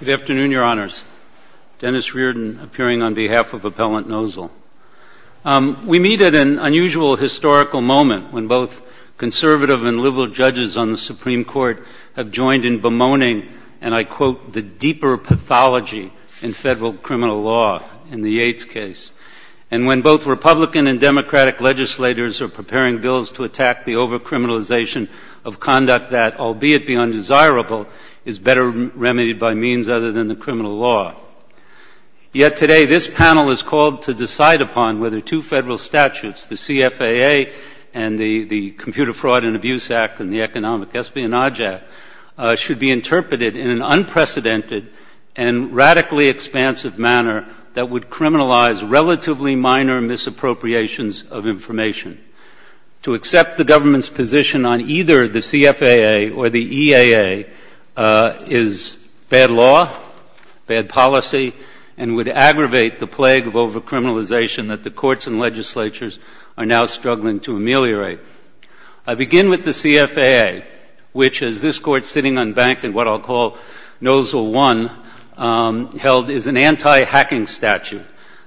Good afternoon, Your Honors. Dennis Reardon appearing on behalf of Appellant Nosal. We meet at an unusual historical moment when both conservative and liberal judges on the Supreme Court have joined in bemoaning, and I quote, the deeper pathology in federal criminal law in the Yates case. And when both Republican and Democratic legislators are preparing bills to attack the over-criminalization of conduct that, albeit be undesirable, is better remedied by means other than the criminal law. Yet today this panel is called to decide upon whether two federal statutes, the CFAA and the Computer Fraud and Abuse Act and the Economic Espionage Act, should be interpreted in an unprecedented and radically expansive manner that would criminalize relatively minor misappropriations of information. To accept the government's position on either the CFAA or the EAA is bad law, bad policy, and would aggravate the plague of over-criminalization that the courts and legislatures are now struggling to ameliorate. I begin with the CFAA, which, as this Court sitting unbanked in what I'll call Nosal 1, held is an anti-hacking statute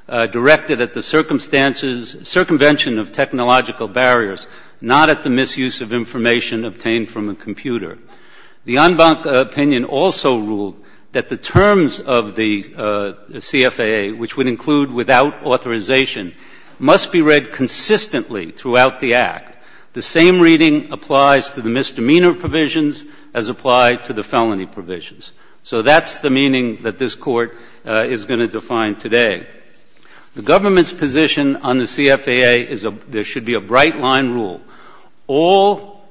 directed at the circumvention of technological barriers, not at the misuse of information obtained from a computer. The unbanked opinion also ruled that the terms of the CFAA, which would include without authorization, must be read consistently throughout the Act. The same reading applies to the misdemeanor provisions as applied to the felony provisions. So that's the meaning that this Court is going to define today. The government's position on the CFAA is there should be a bright line rule. All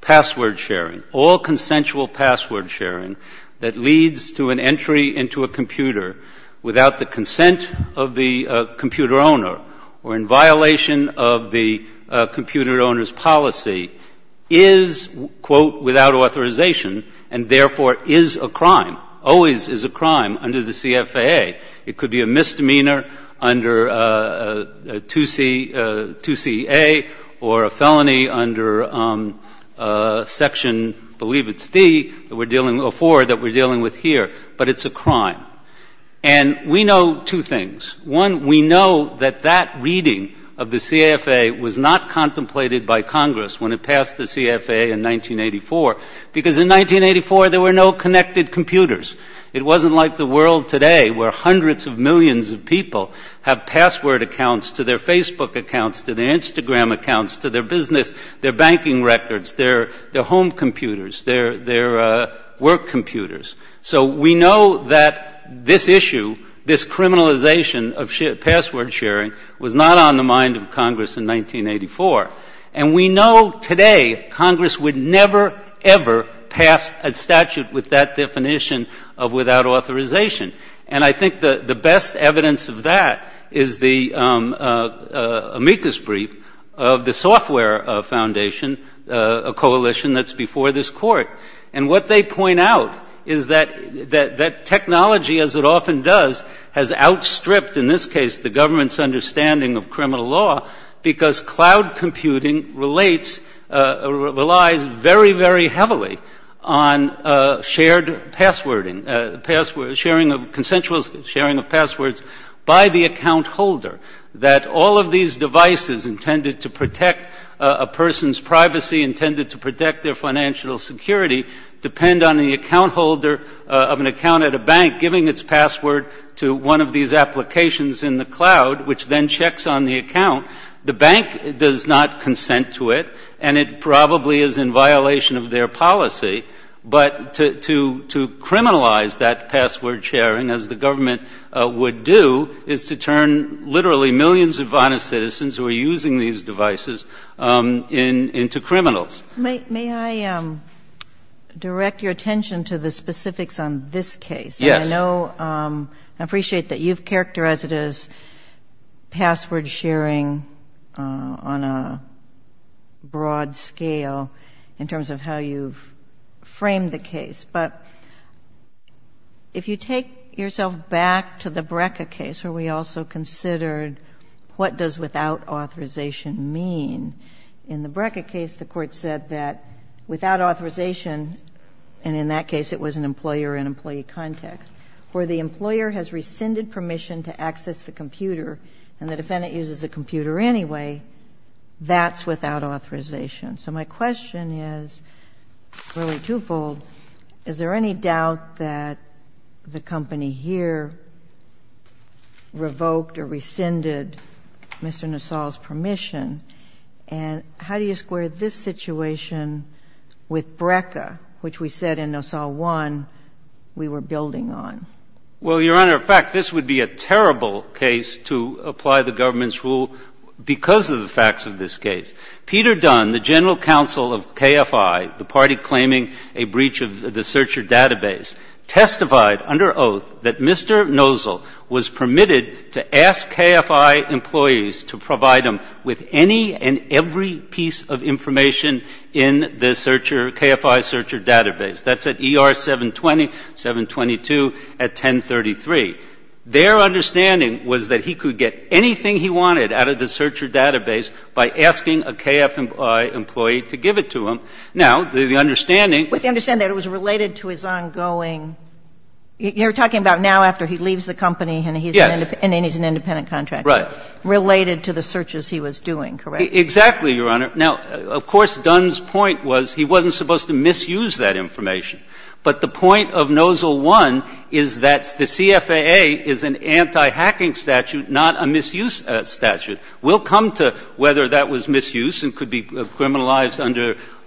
password sharing, all consensual password sharing that leads to an entry into a computer without the consent of the computer owner or in violation of the computer owner's policy is, quote, without authorization, and therefore is a crime, always is a crime under the CFAA. It could be a misdemeanor under 2CA or a felony under Section, I believe it's D, that we're dealing with, or 4 that we're dealing with here, but it's a crime. And we know two things. One, we know that that reading of the CFAA was not contemplated by Congress when it passed the CFAA in 1984, because in 1984 there were no connected computers. It wasn't like the world today where hundreds of millions of people have password accounts to their Facebook accounts, to their Instagram accounts, to their business, their banking records, their home computers, their work computers. So we know that this issue, this criminalization of password sharing, was not on the mind of Congress in 1984. And we know today Congress would never, ever pass a statute with that definition of without authorization. And I think the best evidence of that is the amicus brief of the Software Foundation, a coalition that's before this Court. And what they point out is that that technology, as it often does, has outstripped, in this case, the government's understanding of criminal law, because cloud computing relates, relies very, very heavily on shared passwording, sharing of consensual sharing of passwords by the account holder. That all of these devices intended to protect a person's privacy, intended to protect their financial security, depend on the account holder of an account at a bank giving its applications in the cloud, which then checks on the account. The bank does not consent to it, and it probably is in violation of their policy. But to criminalize that password sharing, as the government would do, is to turn literally millions of honest citizens who are using these devices into criminals. May I direct your attention to the specifics on this case? Yes. I know, I appreciate that you've characterized it as password sharing on a broad scale, in terms of how you've framed the case. But if you take yourself back to the Brecca case, where we also considered what does without authorization mean, in the Brecca case, the Court said that without authorization, and in that case it was an employer and employee context, where the employer has rescinded permission to access the computer and the defendant uses the computer anyway, that's without authorization. So my question is really twofold. Is there any doubt that the company here revoked or rescinded Mr. Nassau's permission? And how do you square this situation with Brecca, which we said in Nassau 1 we were building on? Well, Your Honor, in fact, this would be a terrible case to apply the government's rule because of the facts of this case. Peter Dunn, the general counsel of KFI, the party claiming a breach of the searcher database, testified under oath that Mr. Nosel was permitted to ask KFI employees to provide him with any and every piece of information in the searcher, KFI searcher database. That's at ER 720, 722 at 1033. Their understanding was that he could get anything he wanted out of the searcher database by asking a KFI employee to give it to him. Now, the understanding that he was related to his ongoing, you're talking about now after he leaves the company and he's an independent contractor. Right. Related to the searches he was doing, correct? Exactly, Your Honor. Now, of course, Dunn's point was he wasn't supposed to misuse that information. But the point of Nosel 1 is that the CFAA is an anti-hacking statute, not a misuse statute. We'll come to whether that was misuse and could be criminalized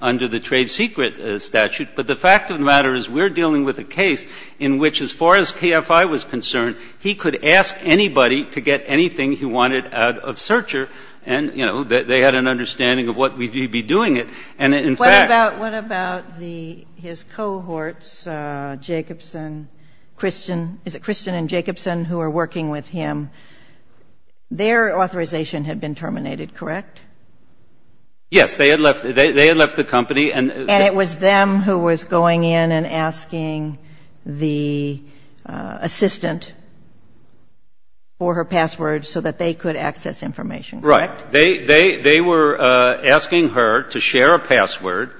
under the trade secret statute. But the fact of the matter is we're dealing with a case in which, as far as KFI was concerned, he could ask anybody to get anything he wanted out of searcher and, you know, they had an understanding of what we'd be doing it. And in fact What about his cohorts, Jacobson, Christian, is it Christian and Jacobson who are working with him? Their authorization had been terminated, correct? Yes. They had left the company. And it was them who was going in and asking the assistant for her password so that they could access information, correct? Right. They were asking her to share a password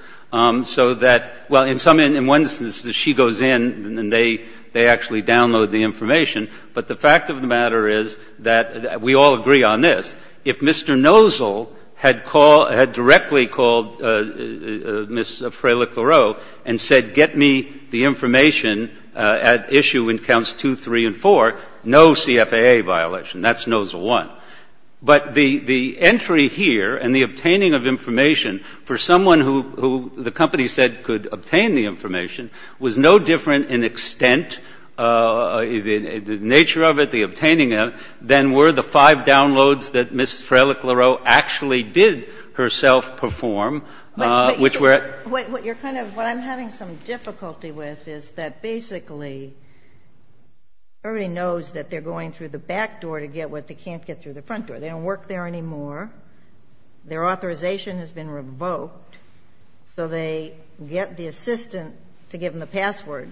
so that, well, in some instances she goes in and they actually download the information. But the fact of the matter is that we all agree on this. If Mr. Nozol had called, had directly called Ms. Frey-Leclerc and said get me the information at issue in counts 2, 3, and 4, no CFAA violation. That's Nozol 1. But the entry here and the obtaining of information for someone who the company said could obtain the information was no different in extent, the nature of it, the Ms. Frey-Leclerc actually did herself perform, which were What I'm having some difficulty with is that basically everybody knows that they're going through the back door to get what they can't get through the front door. They don't work there anymore. Their authorization has been revoked. So they get the assistant to give them the password.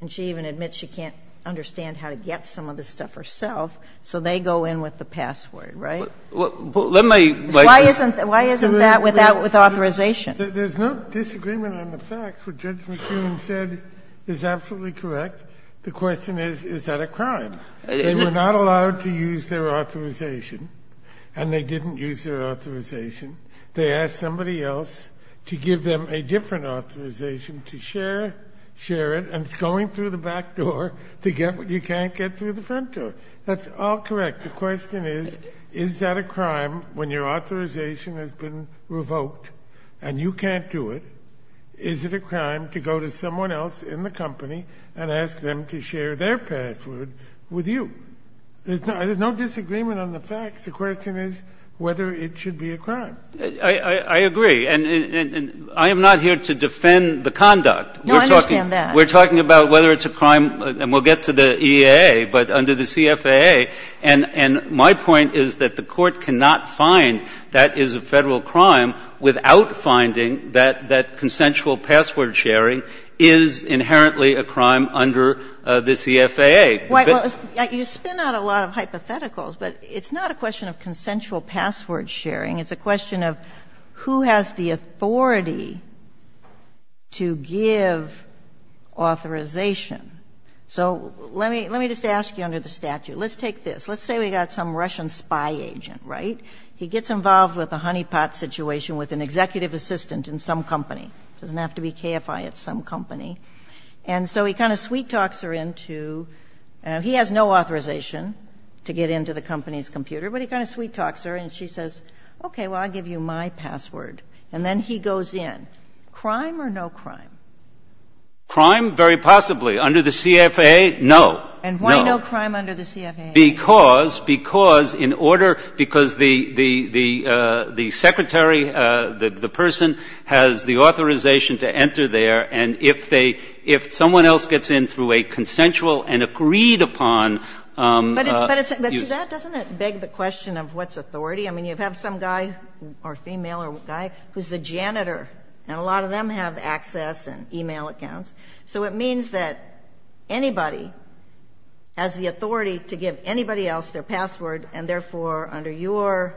And she even admits she can't understand how to get some of this stuff herself. So they go in with the password, right? Why isn't that with authorization? There's no disagreement on the facts. What Judge McKeon said is absolutely correct. The question is, is that a crime? They were not allowed to use their authorization, and they didn't use their authorization. They asked somebody else to give them a different authorization to share it, and it's going through the back door to get what you can't get through the front door. That's all correct. The question is, is that a crime when your authorization has been revoked and you can't do it? Is it a crime to go to someone else in the company and ask them to share their password with you? There's no disagreement on the facts. The question is whether it should be a crime. I agree. And I am not here to defend the conduct. No, I understand that. We're talking about whether it's a crime, and we'll get to the EAA, but under the CFAA. And my point is that the Court cannot find that is a Federal crime without finding that consensual password sharing is inherently a crime under the CFAA. Well, you spin out a lot of hypotheticals, but it's not a question of consensual password sharing. It's a question of who has the authority to give authorization. So let me just ask you under the statute. Let's take this. Let's say we've got some Russian spy agent, right? He gets involved with a honeypot situation with an executive assistant in some company. It doesn't have to be KFI. It's some company. And so he kind of sweet talks her into he has no authorization to get into the company's Okay, well, I'll give you my password. And then he goes in. Crime or no crime? Crime? Very possibly. Under the CFAA, no. No. And why no crime under the CFAA? Because the secretary, the person, has the authorization to enter there. And if someone else gets in through a consensual and agreed-upon use. But to that, doesn't it beg the question of what's authority? I mean, you have some guy or female or guy who's the janitor, and a lot of them have access and e-mail accounts. So it means that anybody has the authority to give anybody else their password, and therefore, under your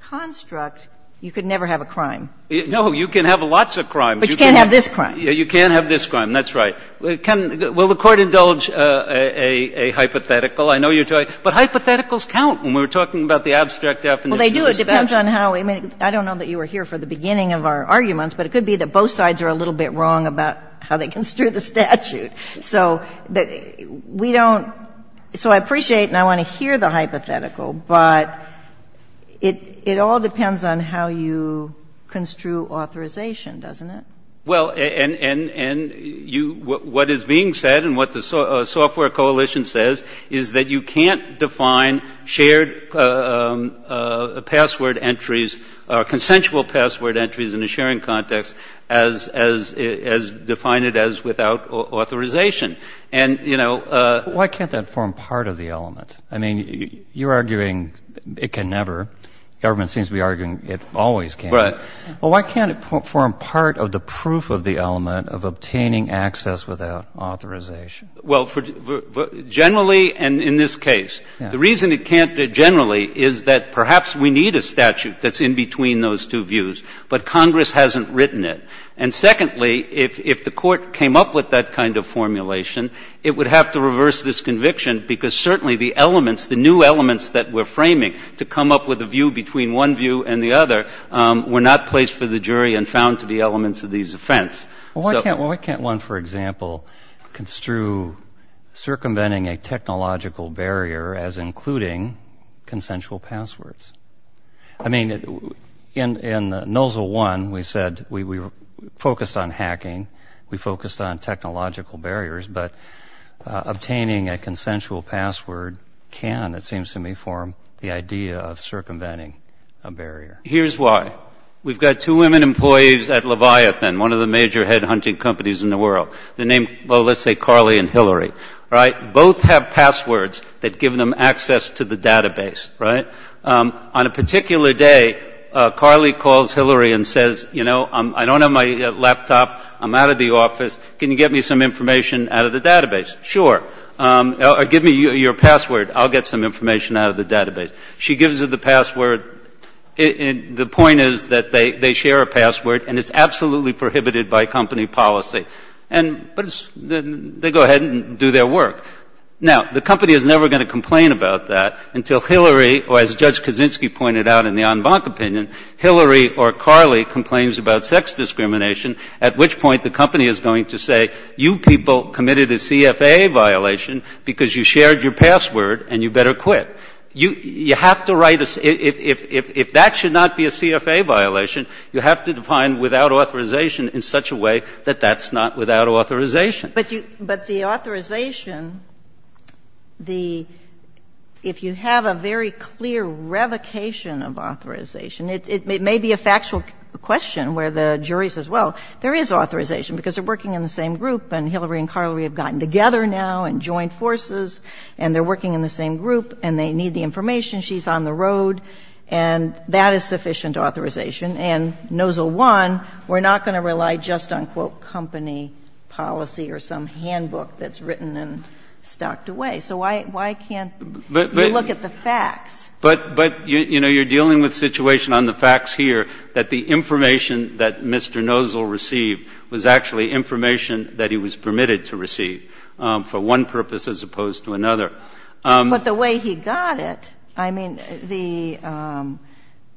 construct, you could never have a crime. No. You can have lots of crimes. But you can't have this crime. You can't have this crime. That's right. Can the Court indulge a hypothetical? I know you're trying. But hypotheticals count when we're talking about the abstract definition of the statute. Well, they do. It depends on how we make it. I don't know that you were here for the beginning of our arguments, but it could be that both sides are a little bit wrong about how they construe the statute. So we don't – so I appreciate and I want to hear the hypothetical, but it all depends on how you construe authorization, doesn't it? Well, and you – what is being said and what the Software Coalition says is that you can't define shared password entries or consensual password entries in a sharing context as – define it as without authorization. And, you know – Well, why can't that form part of the element? I mean, you're arguing it can never. The government seems to be arguing it always can. Right. Well, why can't it form part of the proof of the element of obtaining access without authorization? Well, generally and in this case, the reason it can't generally is that perhaps we need a statute that's in between those two views, but Congress hasn't written it. And secondly, if the Court came up with that kind of formulation, it would have to reverse this conviction because certainly the elements, the new elements that we're framing to come up with a view between one view and the other were not placed for the jury and found to be elements of these offense. Well, why can't one, for example, construe circumventing a technological barrier as including consensual passwords? I mean, in Nozzle 1, we said we focused on hacking. We focused on technological barriers, but obtaining a consensual password can, it seems to me, form the idea of circumventing a barrier. Here's why. We've got two women employees at Leviathan, one of the major head hunting companies in the world. They're named, well, let's say Carly and Hillary. Right. Both have passwords that give them access to the database. Right. On a particular day, Carly calls Hillary and says, you know, I don't have my laptop. I'm out of the office. Can you get me some information out of the database? Sure. Or give me your password. I'll get some information out of the database. She gives her the password. The point is that they share a password, and it's absolutely prohibited by company policy. But they go ahead and do their work. Now, the company is never going to complain about that until Hillary, or as Judge Kaczynski pointed out in the en banc opinion, Hillary or Carly complains about sex discrimination, at which point the company is going to say, you people committed a CFA violation because you shared your password and you better quit. You have to write a ‑‑ if that should not be a CFA violation, you have to define without authorization in such a way that that's not without authorization. But the authorization, the ‑‑ if you have a very clear revocation of authorization, it may be a factual question where the jury says, well, there is authorization because they're working in the same group and Hillary and Carly have gotten together now and joined forces and they're working in the same group and they need the information, she's on the road, and that is sufficient authorization. And NOZIL 1, we're not going to rely just on, quote, company policy or some handbook that's written and stocked away. So why can't you look at the facts? But, you know, you're dealing with a situation on the facts here that the information that Mr. NOZIL received was actually information that he was permitted to receive for one purpose as opposed to another. But the way he got it, I mean,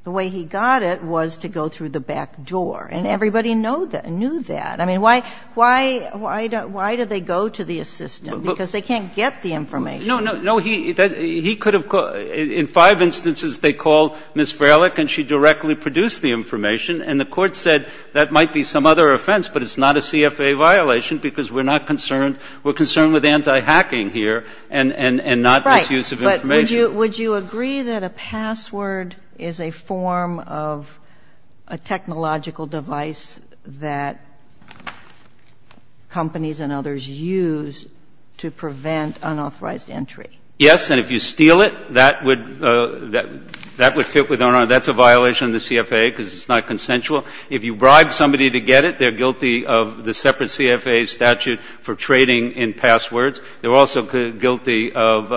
the way he got it was to go through the back door. And everybody knew that. I mean, why do they go to the assistant? Because they can't get the information. No, no. He could have ‑‑ in five instances they called Ms. Frelick and she directly produced the information. And the Court said that might be some other offense, but it's not a CFA violation because we're not concerned. We're concerned with anti-hacking here and not misuse of information. Right. But would you agree that a password is a form of a technological device that companies and others use to prevent unauthorized entry? Yes. And if you steal it, that would fit with our ‑‑ that's a violation of the CFA. Because it's not consensual. If you bribe somebody to get it, they're guilty of the separate CFA statute for trading in passwords. They're also guilty of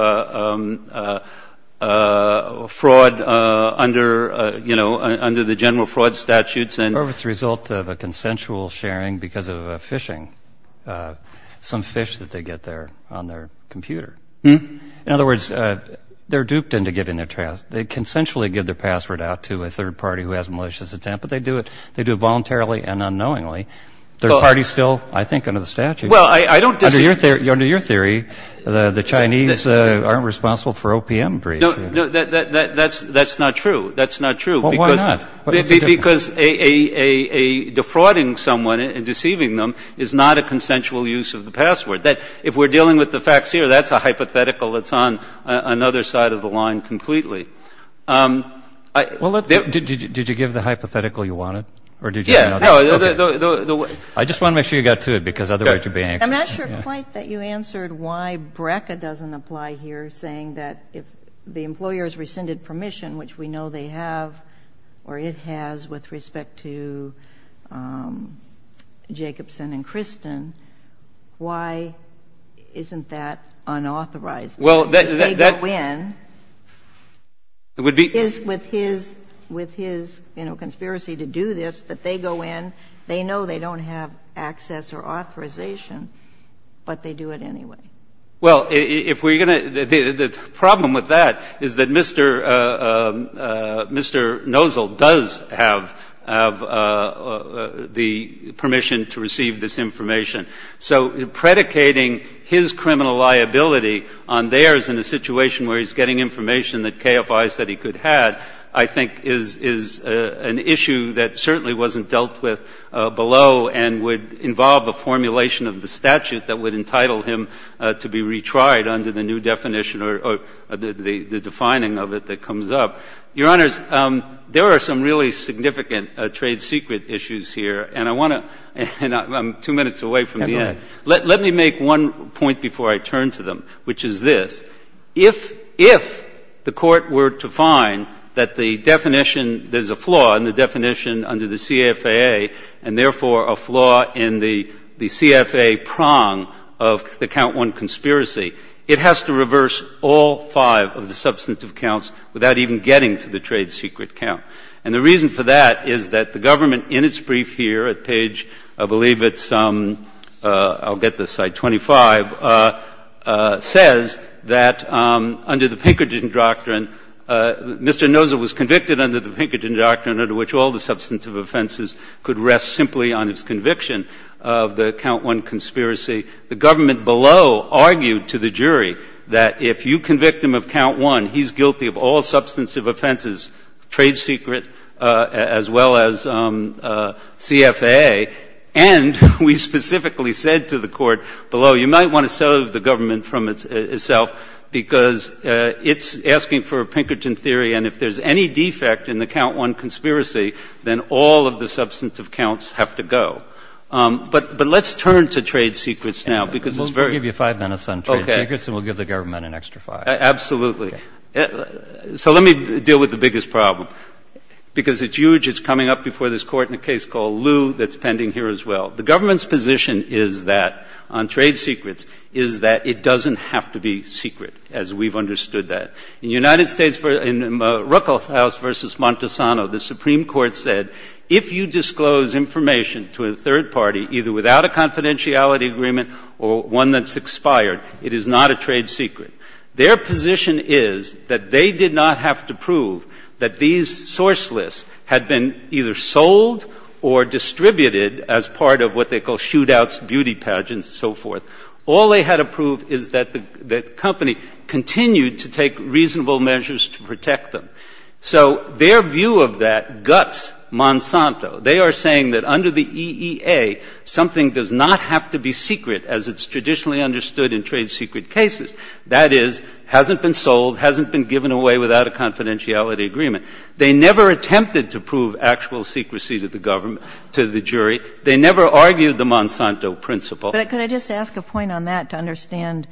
fraud under, you know, under the general fraud statutes. Or if it's the result of a consensual sharing because of phishing. Some phish that they get there on their computer. In other words, they're duped into giving their passwords. They consensually give their password out to a third party who has malicious intent, but they do it voluntarily and unknowingly. Third party still, I think, under the statute. Well, I don't disagree. Under your theory, the Chinese aren't responsible for OPM breach. No, that's not true. That's not true. Well, why not? Because defrauding someone and deceiving them is not a consensual use of the password. If we're dealing with the facts here, that's a hypothetical that's on another side of the line completely. Well, did you give the hypothetical you wanted? Yeah. I just want to make sure you got to it, because otherwise you'd be anxious. I'm not sure quite that you answered why BRCA doesn't apply here, saying that if the employer has rescinded permission, which we know they have, or it has with respect to Jacobson and Kristen, why isn't that unauthorized? Well, that's the thing. If they go in with his, you know, conspiracy to do this, that they go in, they know they don't have access or authorization, but they do it anyway. Well, if we're going to – the problem with that is that Mr. Nozol does have the permission to receive this information. So predicating his criminal liability on theirs in a situation where he's getting information that KFI said he could have, I think, is an issue that certainly wasn't dealt with below and would involve a formulation of the statute that would entitle him to be retried under the new definition or the defining of it that comes up. Your Honors, there are some really significant trade secret issues here. And I want to – and I'm two minutes away from the end. Yeah, go ahead. Let me make one point before I turn to them, which is this. If the Court were to find that the definition – there's a flaw in the definition under the CFAA and, therefore, a flaw in the CFAA prong of the Count I conspiracy, it has to reverse all five of the substantive counts without even getting to the trade secret count. And the reason for that is that the government, in its brief here at page, I believe it's – I'll get this site – 25, says that under the Pinkerton Doctrine, Mr. Pinkerton's claim that all substantive offenses could rest simply on its conviction of the Count I conspiracy, the government below argued to the jury that if you convict him of Count I, he's guilty of all substantive offenses, trade secret as well as CFAA. And we specifically said to the Court below, you might want to settle the government from itself, because it's asking for a Pinkerton theory. And if there's any defect in the Count I conspiracy, then all of the substantive counts have to go. But let's turn to trade secrets now, because it's very – We'll give you five minutes on trade secrets and we'll give the government an extra five. Absolutely. So let me deal with the biggest problem, because it's huge. It's coming up before this Court in a case called Lew that's pending here as well. The government's position is that, on trade secrets, is that it doesn't have to be secret, as we've understood that. In United States, in Ruckelshaus v. Montesano, the Supreme Court said, if you disclose information to a third party, either without a confidentiality agreement or one that's expired, it is not a trade secret. Their position is that they did not have to prove that these source lists had been either sold or distributed as part of what they call shootouts, beauty pageants, and so forth. All they had to prove is that the company continued to take reasonable measures to protect them. So their view of that guts Monsanto. They are saying that under the EEA, something does not have to be secret, as it's traditionally understood in trade secret cases. That is, hasn't been sold, hasn't been given away without a confidentiality agreement. They never attempted to prove actual secrecy to the government, to the jury. They never argued the Monsanto principle. But could I just ask a point on that to understand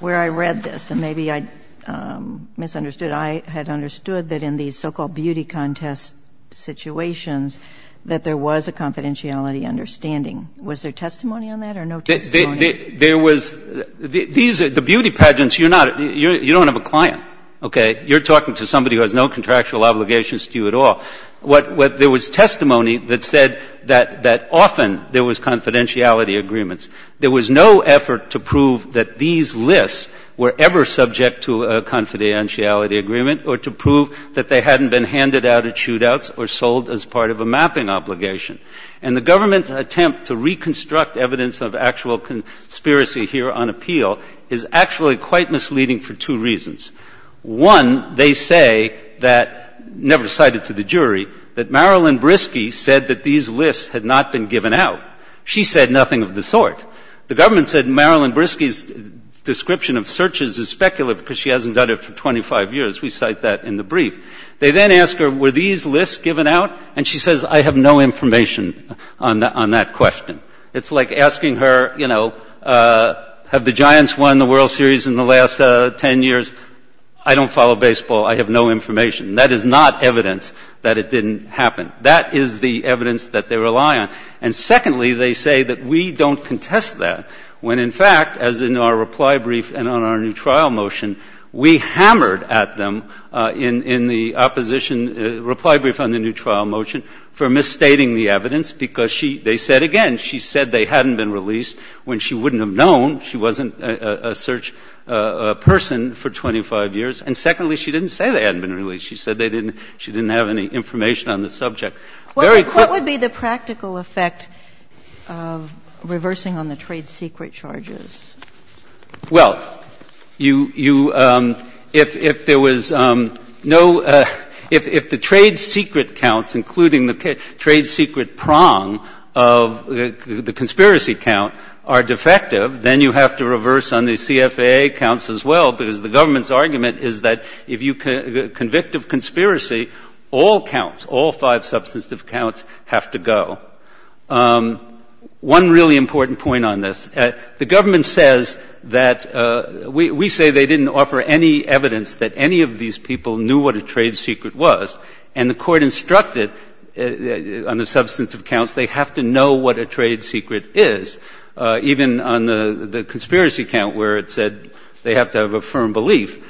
where I read this? And maybe I misunderstood. I had understood that in these so-called beauty contest situations that there was a confidentiality understanding. Was there testimony on that or no testimony? There was the beauty pageants, you're not, you don't have a client, okay? You're talking to somebody who has no contractual obligations to you at all. There was testimony that said that often there was confidentiality agreements. There was no effort to prove that these lists were ever subject to a confidentiality agreement or to prove that they hadn't been handed out at shootouts or sold as part of a mapping obligation. And the government's attempt to reconstruct evidence of actual conspiracy here on appeal is actually quite misleading for two reasons. One, they say that, never cited to the jury, that Marilyn Briski said that these lists had not been given out. She said nothing of the sort. The government said Marilyn Briski's description of searches is speculative because she hasn't done it for 25 years. We cite that in the brief. They then ask her, were these lists given out? And she says, I have no information on that question. It's like asking her, you know, have the Giants won the World Series in the last 10 years? I don't follow baseball. I have no information. And that is not evidence that it didn't happen. That is the evidence that they rely on. And secondly, they say that we don't contest that when, in fact, as in our reply brief and on our new trial motion, we hammered at them in the opposition reply brief on the new trial motion for misstating the evidence because she they said again, she said they hadn't been released when she wouldn't have known. She wasn't a search person for 25 years. And secondly, she didn't say they hadn't been released. She said they didn't – she didn't have any information on the subject. Very quickly. Kagan. What would be the practical effect of reversing on the trade secret charges? Well, you – if there was no – if the trade secret counts, including the trade secret prong of the conspiracy count, are defective, then you have to reverse on the CFAA counts as well because the government's argument is that if you convict of conspiracy, all counts, all five substantive counts have to go. One really important point on this. The government says that – we say they didn't offer any evidence that any of these people knew what a trade secret was. And the Court instructed on the substantive counts they have to know what a trade secret is, even on the conspiracy count where it said they have to have a firm belief.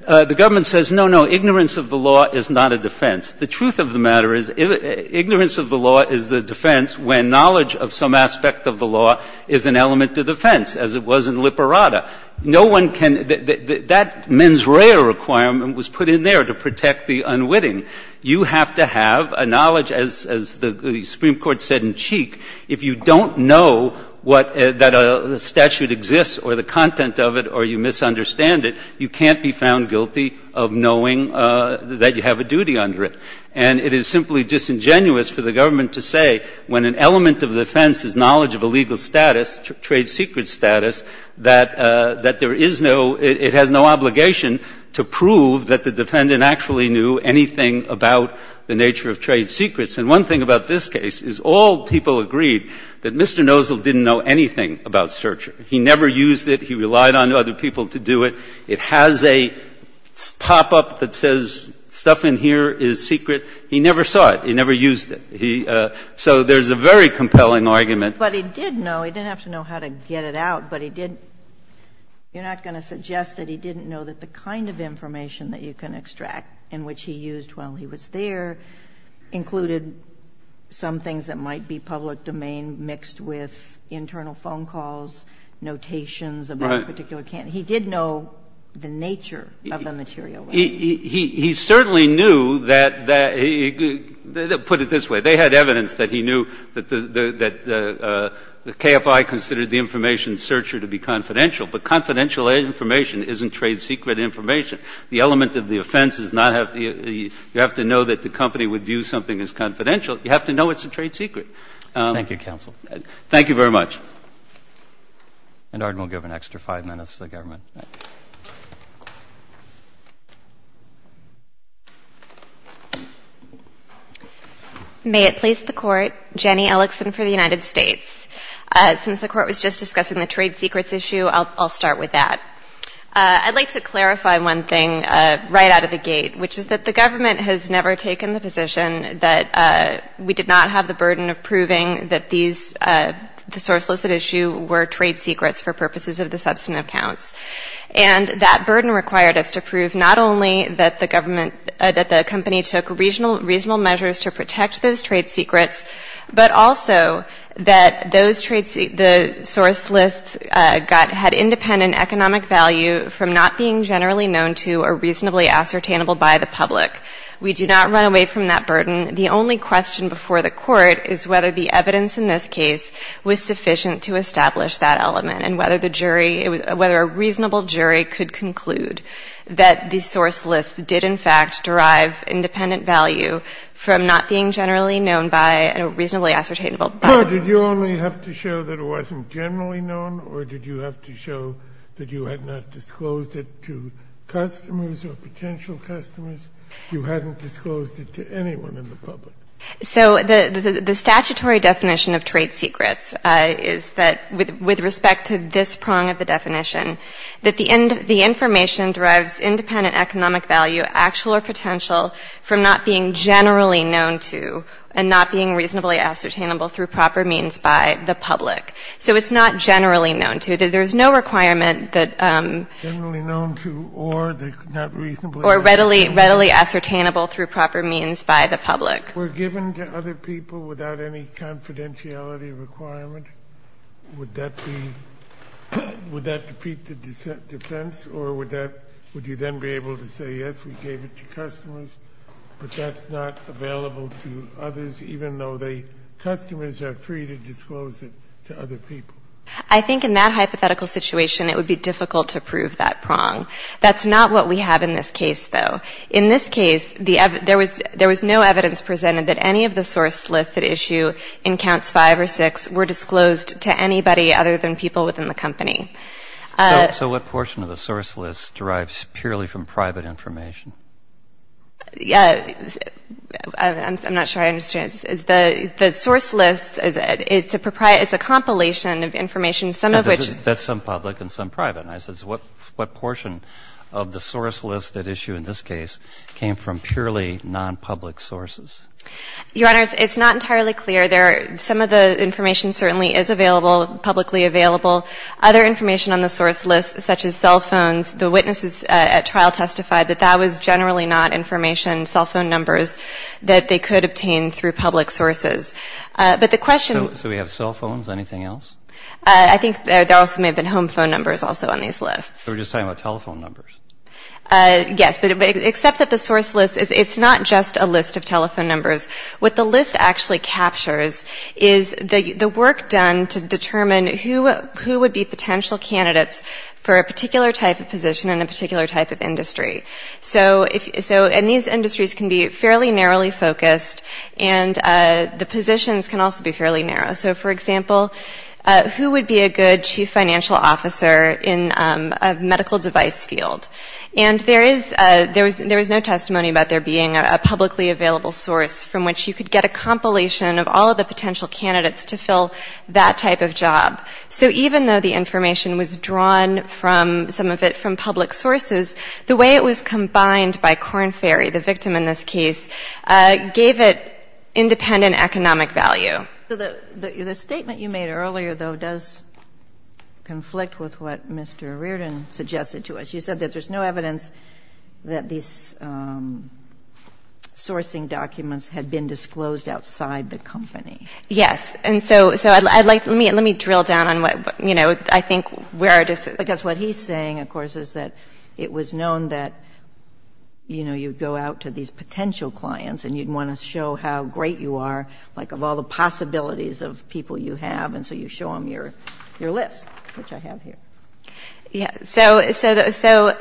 The government says, no, no, ignorance of the law is not a defense. The truth of the matter is ignorance of the law is the defense when knowledge of some aspect of the law is an element of defense, as it was in Liperada. No one can – that mens rea requirement was put in there to protect the unwitting. You have to have a knowledge, as the Supreme Court said in Cheek, if you don't know what – that a statute exists or the content of it or you misunderstand it, you can't be found guilty of knowing that you have a duty under it. And it is simply disingenuous for the government to say when an element of defense is knowledge of a legal status, trade secret status, that there is no – it has no obligation to prove that the defendant actually knew anything about the nature of trade secrets. And one thing about this case is all people agreed that Mr. Nozell didn't know anything about search. He never used it. He relied on other people to do it. It has a pop-up that says stuff in here is secret. He never saw it. He never used it. He – so there's a very compelling argument. But he did know. He didn't have to know how to get it out, but he did – you're not going to suggest that he didn't know that the kind of information that you can extract in which he used while he was there included some things that might be public domain mixed with internal phone calls, notations about a particular – he did know the nature of the material. He certainly knew that – put it this way. They had evidence that he knew that the KFI considered the information searcher to be confidential, but confidential information isn't trade secret information. The element of the offense is not – you have to know that the company would view something as confidential. You have to know it's a trade secret. Thank you, counsel. Thank you very much. And our – we'll give an extra five minutes to the government. May it please the Court. Jenny Ellickson for the United States. Since the Court was just discussing the trade secrets issue, I'll start with that. I'd like to clarify one thing right out of the gate, which is that the government has never taken the position that we did not have the burden of proving that these – the source listed issue were trade secrets for purposes of the substantive counts. And that burden required us to prove not only that the government – that the company took reasonable measures to protect those trade secrets, but also that those trade – the source lists got – had independent economic value from not being generally known to or reasonably ascertainable by the public. We do not run away from that burden. The only question before the Court is whether the evidence in this case was sufficient to establish that element and whether the jury – whether a reasonable jury could conclude that the source list did in fact derive independent value from not being generally known by and reasonably ascertainable by the public. No. Did you only have to show that it wasn't generally known, or did you have to show that you had not disclosed it to customers or potential customers? You hadn't disclosed it to anyone in the public. So the statutory definition of trade secrets is that, with respect to this prong of the definition, that the information derives independent economic value, actual or potential, from not being generally known to and not being reasonably ascertainable through proper means by the public. So it's not generally known to. There's no requirement that – Generally known to or not reasonably ascertainable. Or readily ascertainable through proper means by the public. Were given to other people without any confidentiality requirement, would that be – would that defeat the defense, or would that – would you then be able to say, yes, we gave it to customers, but that's not available to others, even though the customers are free to disclose it to other people? I think in that hypothetical situation, it would be difficult to prove that prong. That's not what we have in this case, though. In this case, there was no evidence presented that any of the source lists that issue in counts five or six were disclosed to anybody other than people within the company. So what portion of the source list derives purely from private information? I'm not sure I understand. The source list is a compilation of information, some of which – That's some public and some private. So what portion of the source list that issue in this case came from purely non-public sources? Your Honor, it's not entirely clear. Some of the information certainly is available, publicly available. Other information on the source list, such as cell phones, the witnesses at trial testified that that was generally not information, cell phone numbers, that they could obtain through public sources. But the question – So we have cell phones, anything else? I think there also may have been home phone numbers also on these lists. So we're just talking about telephone numbers? Yes. But except that the source list – it's not just a list of telephone numbers. What the list actually captures is the work done to determine who would be potential candidates for a particular type of position in a particular type of industry. So – and these industries can be fairly narrowly focused, and the positions can also be fairly narrow. So, for example, who would be a good chief financial officer in a medical device field? And there is – there was no testimony about there being a publicly available source from which you could get a compilation of all of the potential candidates to fill that type of job. So even though the information was drawn from some of it from public sources, the way it was combined by Korn Ferry, the victim in this case, gave it independent economic value. So the statement you made earlier, though, does conflict with what Mr. Reardon suggested to us. You said that there's no evidence that these sourcing documents had been disclosed outside the company. Yes. And so I'd like to – let me drill down on what, you know, I think where it is. Because what he's saying, of course, is that it was known that, you know, you go out to these potential clients and you'd want to show how great you are, like, of all the possibilities of people you have. And so you show them your list, which I have here. Yes. So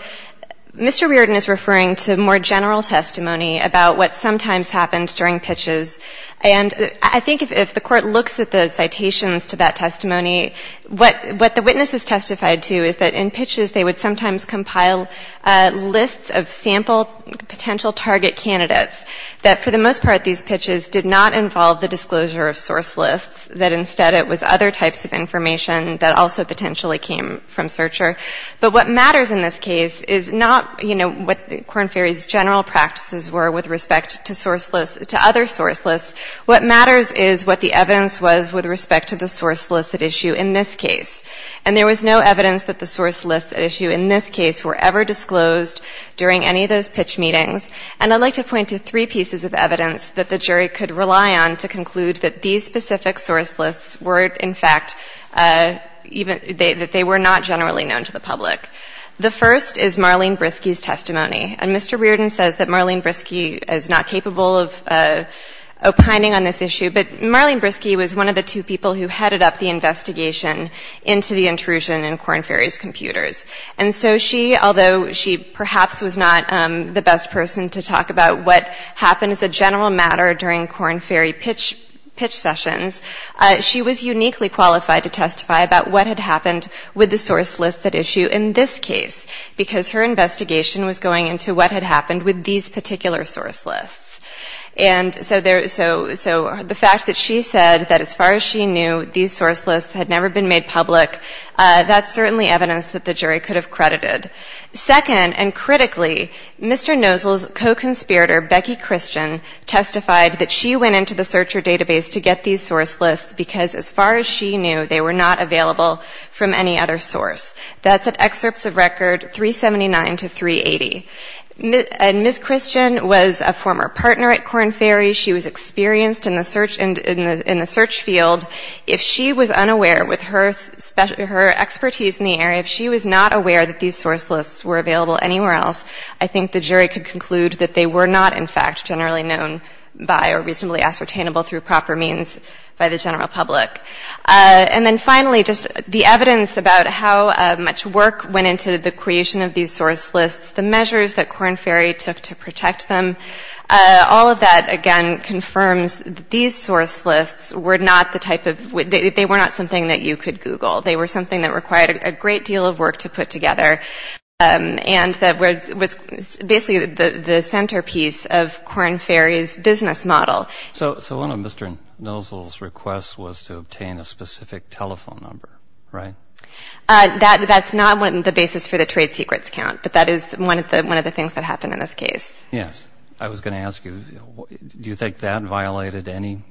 Mr. Reardon is referring to more general testimony about what sometimes happened during pitches. And I think if the Court looks at the citations to that testimony, what the witness has testified to is that in pitches they would sometimes compile lists of sample potential target candidates, that for the most part these pitches did not involve the disclosure of source lists, that instead it was other types of information that also potentially came from searcher. But what matters in this case is not, you know, what the Corn Ferry's general practices were with respect to other source lists. What matters is what the evidence was with respect to the source list at issue in this case. And there was no evidence that the source lists at issue in this case were ever used in pitch meetings. And I'd like to point to three pieces of evidence that the jury could rely on to conclude that these specific source lists were, in fact, even, that they were not generally known to the public. The first is Marlene Briskey's testimony. And Mr. Reardon says that Marlene Briskey is not capable of opining on this issue, but Marlene Briskey was one of the two people who headed up the investigation into the intrusion in Corn Ferry's computers. And so she, although she perhaps was not the best person to talk about what happened as a general matter during Corn Ferry pitch sessions, she was uniquely qualified to testify about what had happened with the source list at issue in this case, because her investigation was going into what had happened with these particular source lists. And so the fact that she said that as far as she knew, these source lists had certainly evidence that the jury could have credited. Second, and critically, Mr. Nosel's co-conspirator, Becky Christian, testified that she went into the searcher database to get these source lists because as far as she knew, they were not available from any other source. That's at excerpts of record 379 to 380. And Ms. Christian was a former partner at Corn Ferry. She was experienced in the search field. If she was unaware with her expertise in the area, if she was not aware that these source lists were available anywhere else, I think the jury could conclude that they were not, in fact, generally known by or reasonably ascertainable through proper means by the general public. And then finally, just the evidence about how much work went into the creation of these source lists, the measures that Corn Ferry took to protect them, all of that, again, confirms that these source lists were not the type of, they were not something that you could Google. They were something that required a great deal of work to put together and that was basically the centerpiece of Corn Ferry's business model. So one of Mr. Nosel's requests was to obtain a specific telephone number, right? That's not the basis for the trade secrets count, but that is one of the things that happened in this case. Yes. I was going to ask you, do you think that violated any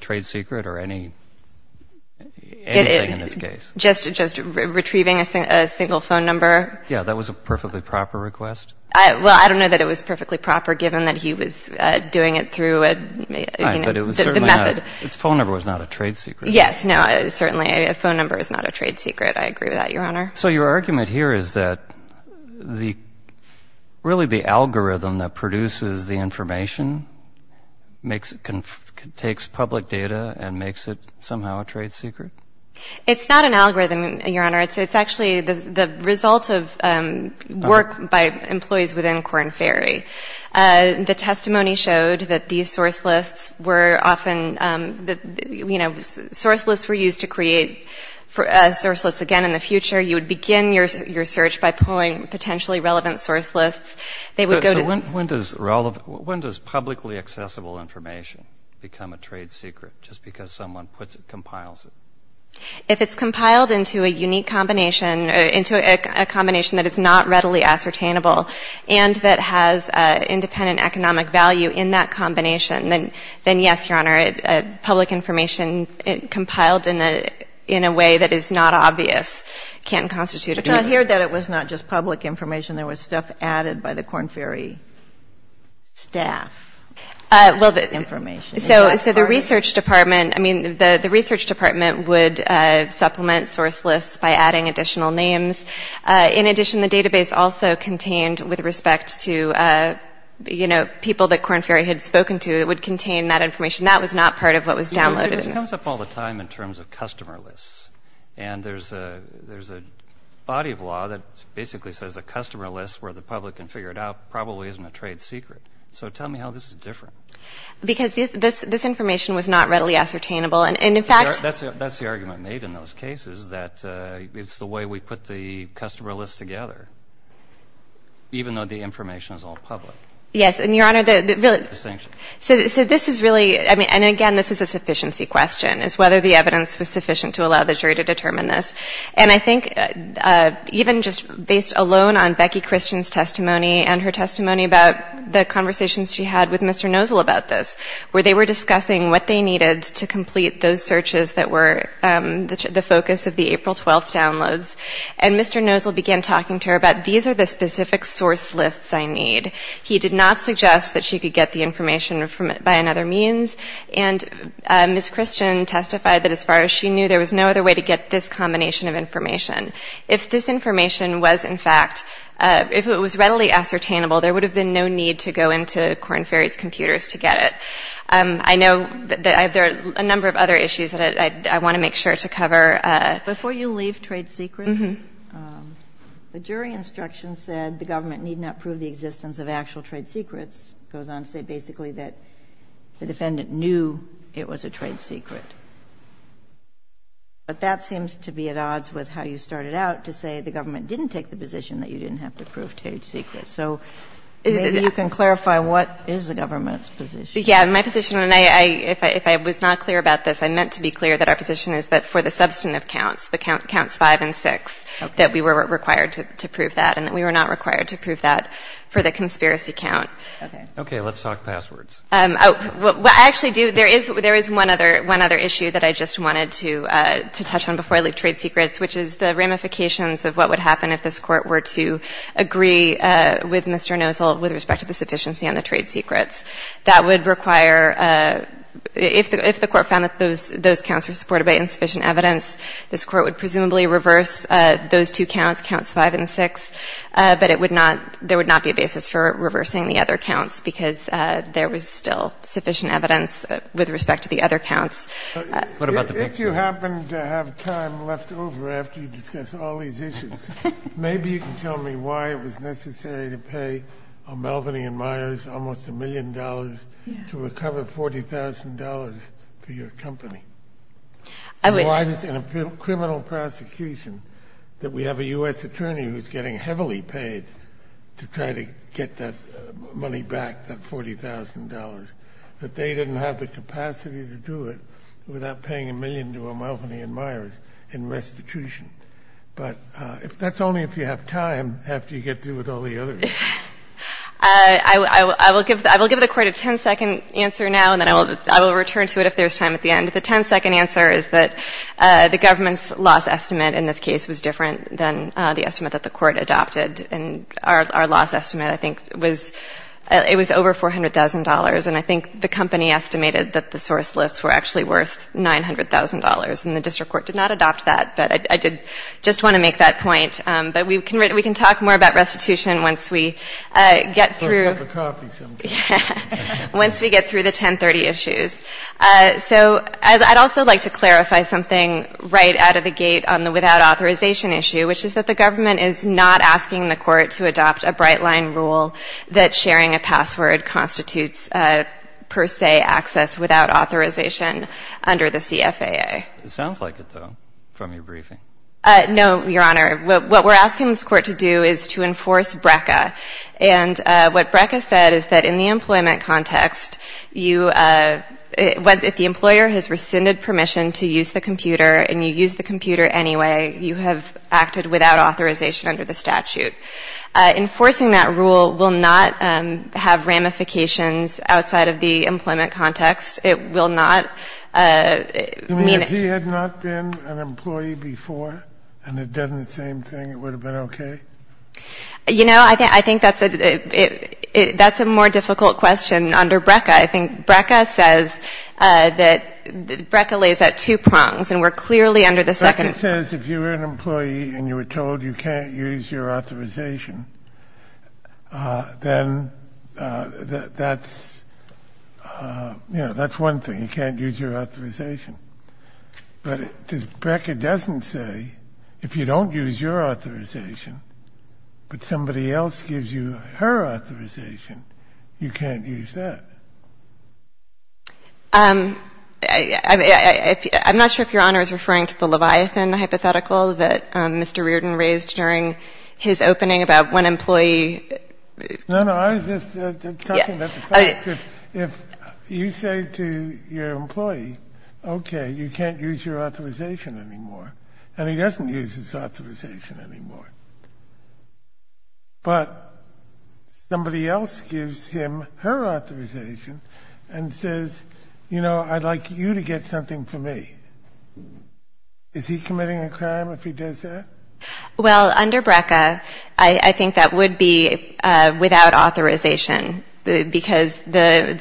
trade secret or anything in this case? Just retrieving a single phone number? Yeah. That was a perfectly proper request? Well, I don't know that it was perfectly proper given that he was doing it through the method. But it was certainly not, his phone number was not a trade secret. Yes. No, certainly a phone number is not a trade secret. I agree with that, Your Honor. So your argument here is that really the algorithm that produces the information takes public data and makes it somehow a trade secret? It's not an algorithm, Your Honor. It's actually the result of work by employees within Corn Ferry. The testimony showed that these source lists were often, you know, source lists were used to create source lists again in the future. You would begin your search by pulling potentially relevant source lists. So when does publicly accessible information become a trade secret just because someone puts it, compiles it? If it's compiled into a unique combination, into a combination that is not readily ascertainable and that has independent economic value in that combination, then yes, Your Honor, public information compiled in a way that is not obvious can constitute a trade secret. But I hear that it was not just public information. There was stuff added by the Corn Ferry staff. Well, so the research department, I mean, the research department would supplement source lists by adding additional names. In addition, the database also contained, with respect to, you know, people that Corn Ferry had spoken to, it would contain that information. That was not part of what was downloaded. This comes up all the time in terms of customer lists. And there's a body of law that basically says a customer list where the public can figure it out probably isn't a trade secret. So tell me how this is different. Because this information was not readily ascertainable. And, in fact — That's the argument made in those cases, that it's the way we put the customer lists together, even though the information is all public. Yes, and, Your Honor, the — Distinction. So this is really — I mean, and, again, this is a sufficiency question, is whether the evidence was sufficient to allow the jury to determine this. And I think even just based alone on Becky Christian's testimony and her testimony about the conversations she had with Mr. Nozal about this, where they were discussing what they needed to complete those searches that were the focus of the April 12th downloads, and Mr. Nozal began talking to her about these are the specific source lists I need. He did not suggest that she could get the information by another means. And Ms. Christian testified that as far as she knew, there was no other way to get this combination of information. If this information was, in fact, if it was readily ascertainable, there would have been no need to go into Korn Ferry's computers to get it. I know that there are a number of other issues that I want to make sure to cover. Before you leave trade secrets, the jury instruction said the government need not prove the existence of actual trade secrets, goes on to say basically that the defendant knew it was a trade secret. But that seems to be at odds with how you started out to say the government didn't take the position that you didn't have to prove trade secrets. So maybe you can clarify what is the government's position. Yeah. My position, and I, if I was not clear about this, I meant to be clear that our position is that for the substantive counts, the counts 5 and 6, that we were required to prove that and that we were not required to prove that for the conspiracy count. Okay. Okay. Let's talk passwords. What I actually do, there is one other issue that I just wanted to touch on before I leave trade secrets, which is the ramifications of what would happen if this Court were to agree with Mr. Nozol with respect to the sufficiency on the trade secrets. That would require, if the Court found that those counts were supported by insufficient evidence, this Court would presumably reverse those two counts, counts 5 and 6, but it would not, there would not be a basis for reversing the other counts because there was still sufficient evidence with respect to the other counts. If you happen to have time left over after you discuss all these issues, maybe you can tell me why it was necessary to pay Melvin E. Myers almost a million dollars to recover $40,000 for your company. Why is it in a criminal prosecution that we have a U.S. attorney who is getting heavily paid to try to get that money back, that $40,000, that they didn't have the capacity to do it without paying a million to Melvin E. Myers in restitution? But that's only if you have time after you get through with all the other issues. I will give the Court a ten-second answer now, and then I will return to it if there's time at the end. The ten-second answer is that the government's loss estimate in this case was different than the estimate that the Court adopted, and our loss estimate, I think, was, it was over $400,000, and I think the company estimated that the source lists were actually worth $900,000, and the District Court did not adopt that, but I did just want to make that point. But we can talk more about restitution once we get through the 1030 issues. So I'd also like to clarify something right out of the gate on the without authorization issue, which is that the government is not asking the Court to adopt a bright-line rule that sharing a password constitutes, per se, access without authorization under the CFAA. It sounds like it, though, from your briefing. No, Your Honor. What we're asking this Court to do is to enforce BRCA. And what BRCA said is that in the employment context, you — if the employer has rescinded permission to use the computer and you use the computer anyway, you have acted without authorization under the statute. Enforcing that rule will not have ramifications outside of the employment context. It will not mean — You mean if he had not been an employee before and had done the same thing, it would have been okay? You know, I think that's a more difficult question under BRCA. I think BRCA says that — BRCA lays that two prongs, and we're clearly under the second prong. But it says if you were an employee and you were told you can't use your authorization, then that's — you know, that's one thing, you can't use your authorization. But if BRCA doesn't say if you don't use your authorization but somebody else gives you her authorization, you can't use that. I'm not sure if Your Honor is referring to the Leviathan hypothetical that Mr. Reardon raised during his opening about one employee. No, no. I was just talking about the facts. If you say to your employee, okay, you can't use your authorization anymore, and he doesn't use his authorization anymore, but somebody else gives him her authorization and says, you know, I'd like you to get something for me, is he committing a crime if he does that? Well, under BRCA, I think that would be without authorization because the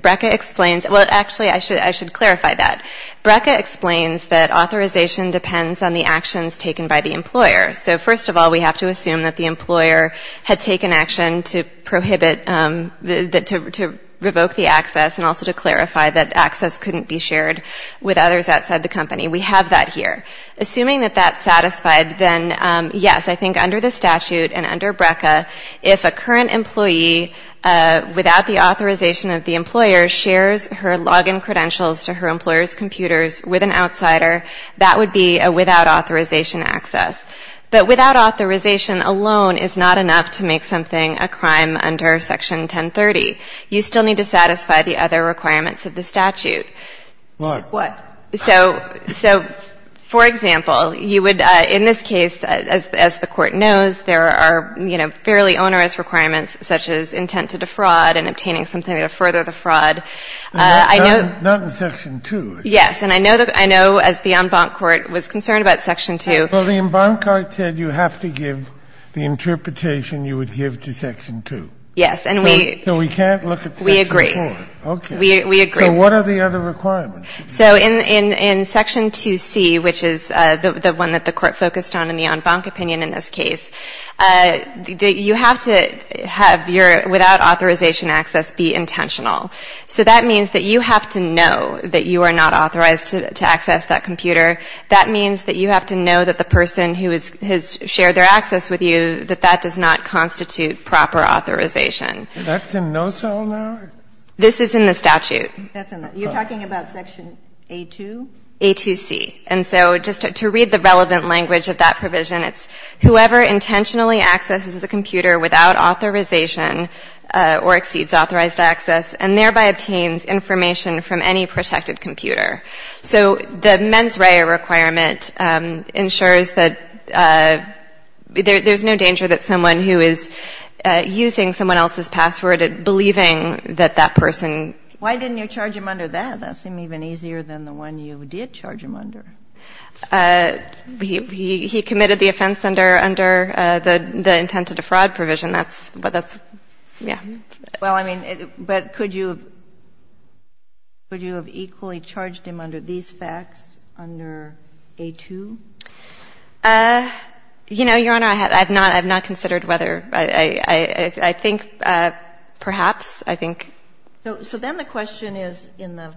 — BRCA explains — well, actually, I should clarify that. BRCA explains that authorization depends on the actions taken by the employer. So first of all, we have to assume that the employer had taken action to prohibit — to revoke the access and also to clarify that access couldn't be shared with others outside the company. We have that here. Assuming that that's satisfied, then, yes, I think under the statute and under BRCA, if a current employee, without the authorization of the employer, shares her log-in credentials to her employer's computers with an outsider, that would be a without authorization access. But without authorization alone is not enough to make something a crime under Section 1030. You still need to satisfy the other requirements of the statute. Why? So, for example, you would — in this case, as the Court knows, there are fairly onerous requirements such as intent to defraud and obtaining something to further the fraud. I know — Not in Section 2. Yes. And I know that — I know, as the en banc court was concerned about Section 2 — Well, the en banc court said you have to give the interpretation you would give to Section 2. Yes. And we — So we can't look at Section 4. We agree. Okay. We agree. So what are the other requirements? So in Section 2C, which is the one that the Court focused on in the en banc opinion in this case, you have to have your — without authorization access be intentional. So that means that you have to know that you are not authorized to access that computer. That means that you have to know that the person who has shared their access with you, that that does not constitute proper authorization. That's in no cell now? This is in the statute. That's in the — you're talking about Section A2? A2C. And so just to read the relevant language of that provision, it's whoever intentionally accesses a computer without authorization or exceeds authorized access and thereby obtains information from any protected computer. So the mens rea requirement ensures that there's no danger that someone who is using someone else's password believing that that person — Why didn't you charge him under that? That seemed even easier than the one you did charge him under. He committed the offense under the intent to defraud provision. That's — yeah. Well, I mean, but could you have equally charged him under these facts, under A2? You know, Your Honor, I have not considered whether — I think perhaps, I think. So then the question is in the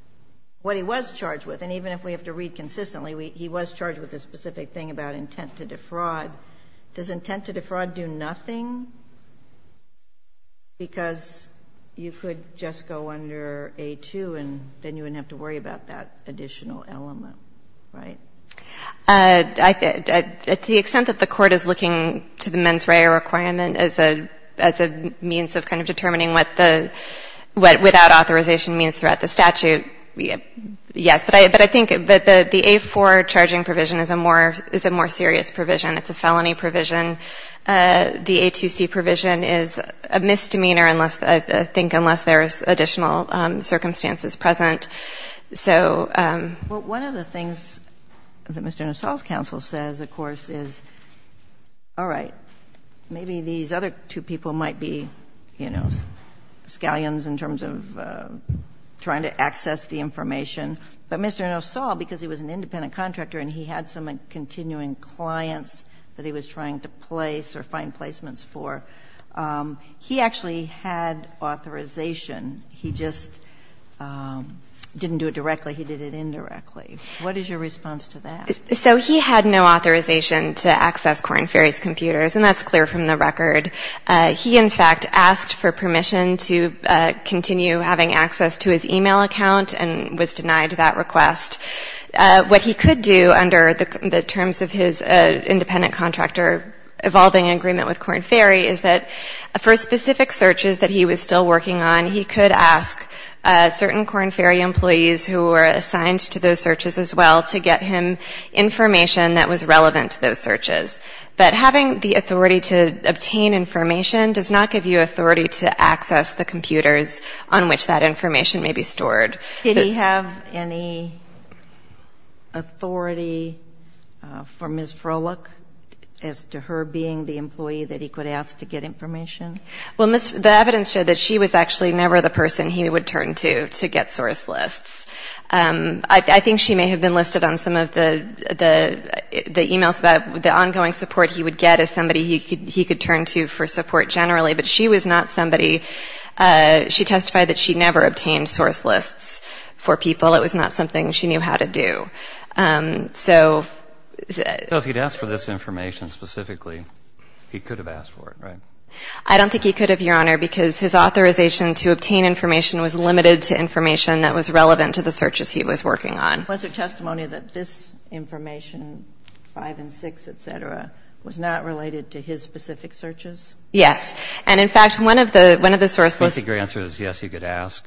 — what he was charged with. And even if we have to read consistently, he was charged with a specific thing about intent to defraud. Does intent to defraud do nothing? Because you could just go under A2 and then you wouldn't have to worry about that additional element, right? To the extent that the Court is looking to the mens rea requirement as a means of kind of determining what the — what without authorization means throughout the statute, yes. But I think that the A4 charging provision is a more serious provision. It's a felony provision. The A2C provision is a misdemeanor, I think, unless there's additional circumstances present. So — Well, one of the things that Mr. Nassau's counsel says, of course, is, all right, maybe these other two people might be, you know, scallions in terms of trying to access the information. But Mr. Nassau, because he was an independent contractor and he had some continuing clients that he was trying to place or find placements for, he actually had authorization. He just didn't do it directly. He did it indirectly. What is your response to that? So he had no authorization to access Korn Ferry's computers, and that's clear from the record. He, in fact, asked for permission to continue having access to his e-mail account and was denied that request. What he could do under the terms of his independent contractor evolving agreement with Korn Ferry is that for specific searches that he was still working on, he could ask certain Korn Ferry searches as well to get him information that was relevant to those searches. But having the authority to obtain information does not give you authority to access the computers on which that information may be stored. Did he have any authority for Ms. Froelich as to her being the employee that he could ask to get information? Well, the evidence showed that she was actually never the person he would turn to to get source lists. I think she may have been listed on some of the e-mails about the ongoing support he would get as somebody he could turn to for support generally. But she was not somebody. She testified that she never obtained source lists for people. It was not something she knew how to do. So if he had asked for this information specifically, he could have asked for it, right? I don't think he could have, Your Honor, because his authorization to obtain information was limited to information that was relevant to the searches he was working on. Was there testimony that this information, 5 and 6, et cetera, was not related to his specific searches? Yes. And, in fact, one of the source lists... I think your answer is yes, he could ask.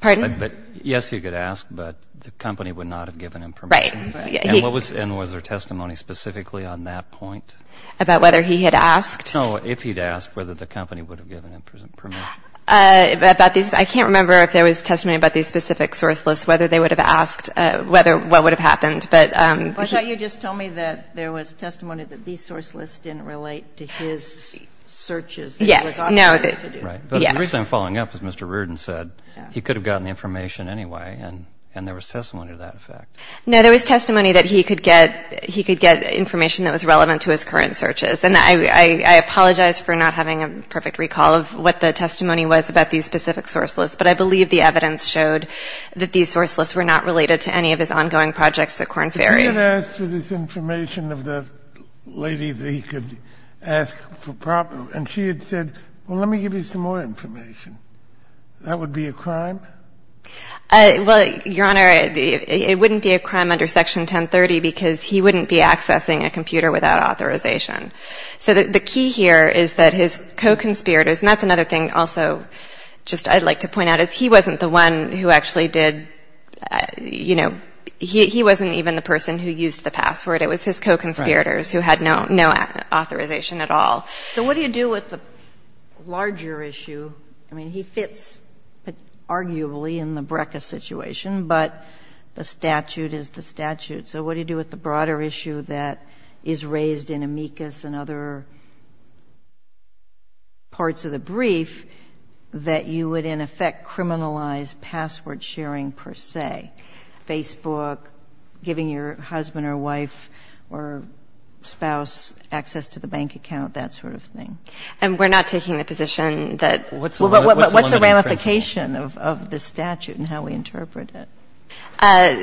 Pardon? Yes, he could ask, but the company would not have given him permission. Right. And was there testimony specifically on that point? About whether he had asked? No, if he'd asked, whether the company would have given him permission. I can't remember if there was testimony about these specific source lists, whether they would have asked what would have happened. But you just told me that there was testimony that these source lists didn't relate to his searches. Yes. No. The reason I'm following up is Mr. Reardon said he could have gotten the information anyway, and there was testimony to that effect. No, there was testimony that he could get information that was relevant to his current searches. And I apologize for not having a perfect recall of what the testimony was about these specific source lists, but I believe the evidence showed that these source lists were not related to any of his ongoing projects at Corn Ferry. But he had asked for this information of the lady that he could ask for proper... And she had said, well, let me give you some more information. That would be a crime? Well, Your Honor, it wouldn't be a crime under Section 1030 because he wouldn't be accessing a computer without authorization. So the key here is that his co-conspirators, and that's another thing also just I'd like to point out, is he wasn't the one who actually did, you know, he wasn't even the person who used the password. It was his co-conspirators who had no authorization at all. So what do you do with the larger issue? I mean, he fits arguably in the BRCA situation, but the statute is the statute. So what do you do with the broader issue that is raised in amicus and other parts of the brief that you would, in effect, criminalize password sharing per se? Facebook, giving your husband or wife or spouse access to the bank account, that sort of thing. And we're not taking the position that... Well, what's the ramification of this statute and how we interpret it?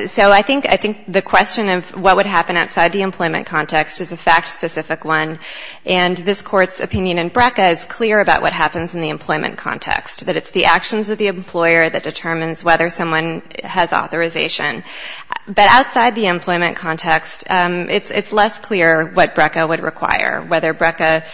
So I think the question of what would happen outside the employment context is a fact-specific one. And this Court's opinion in BRCA is clear about what happens in the employment context, that it's the actions of the employer that determines whether someone has authorization. But outside the employment context, it's less clear what BRCA would require, whether BRCA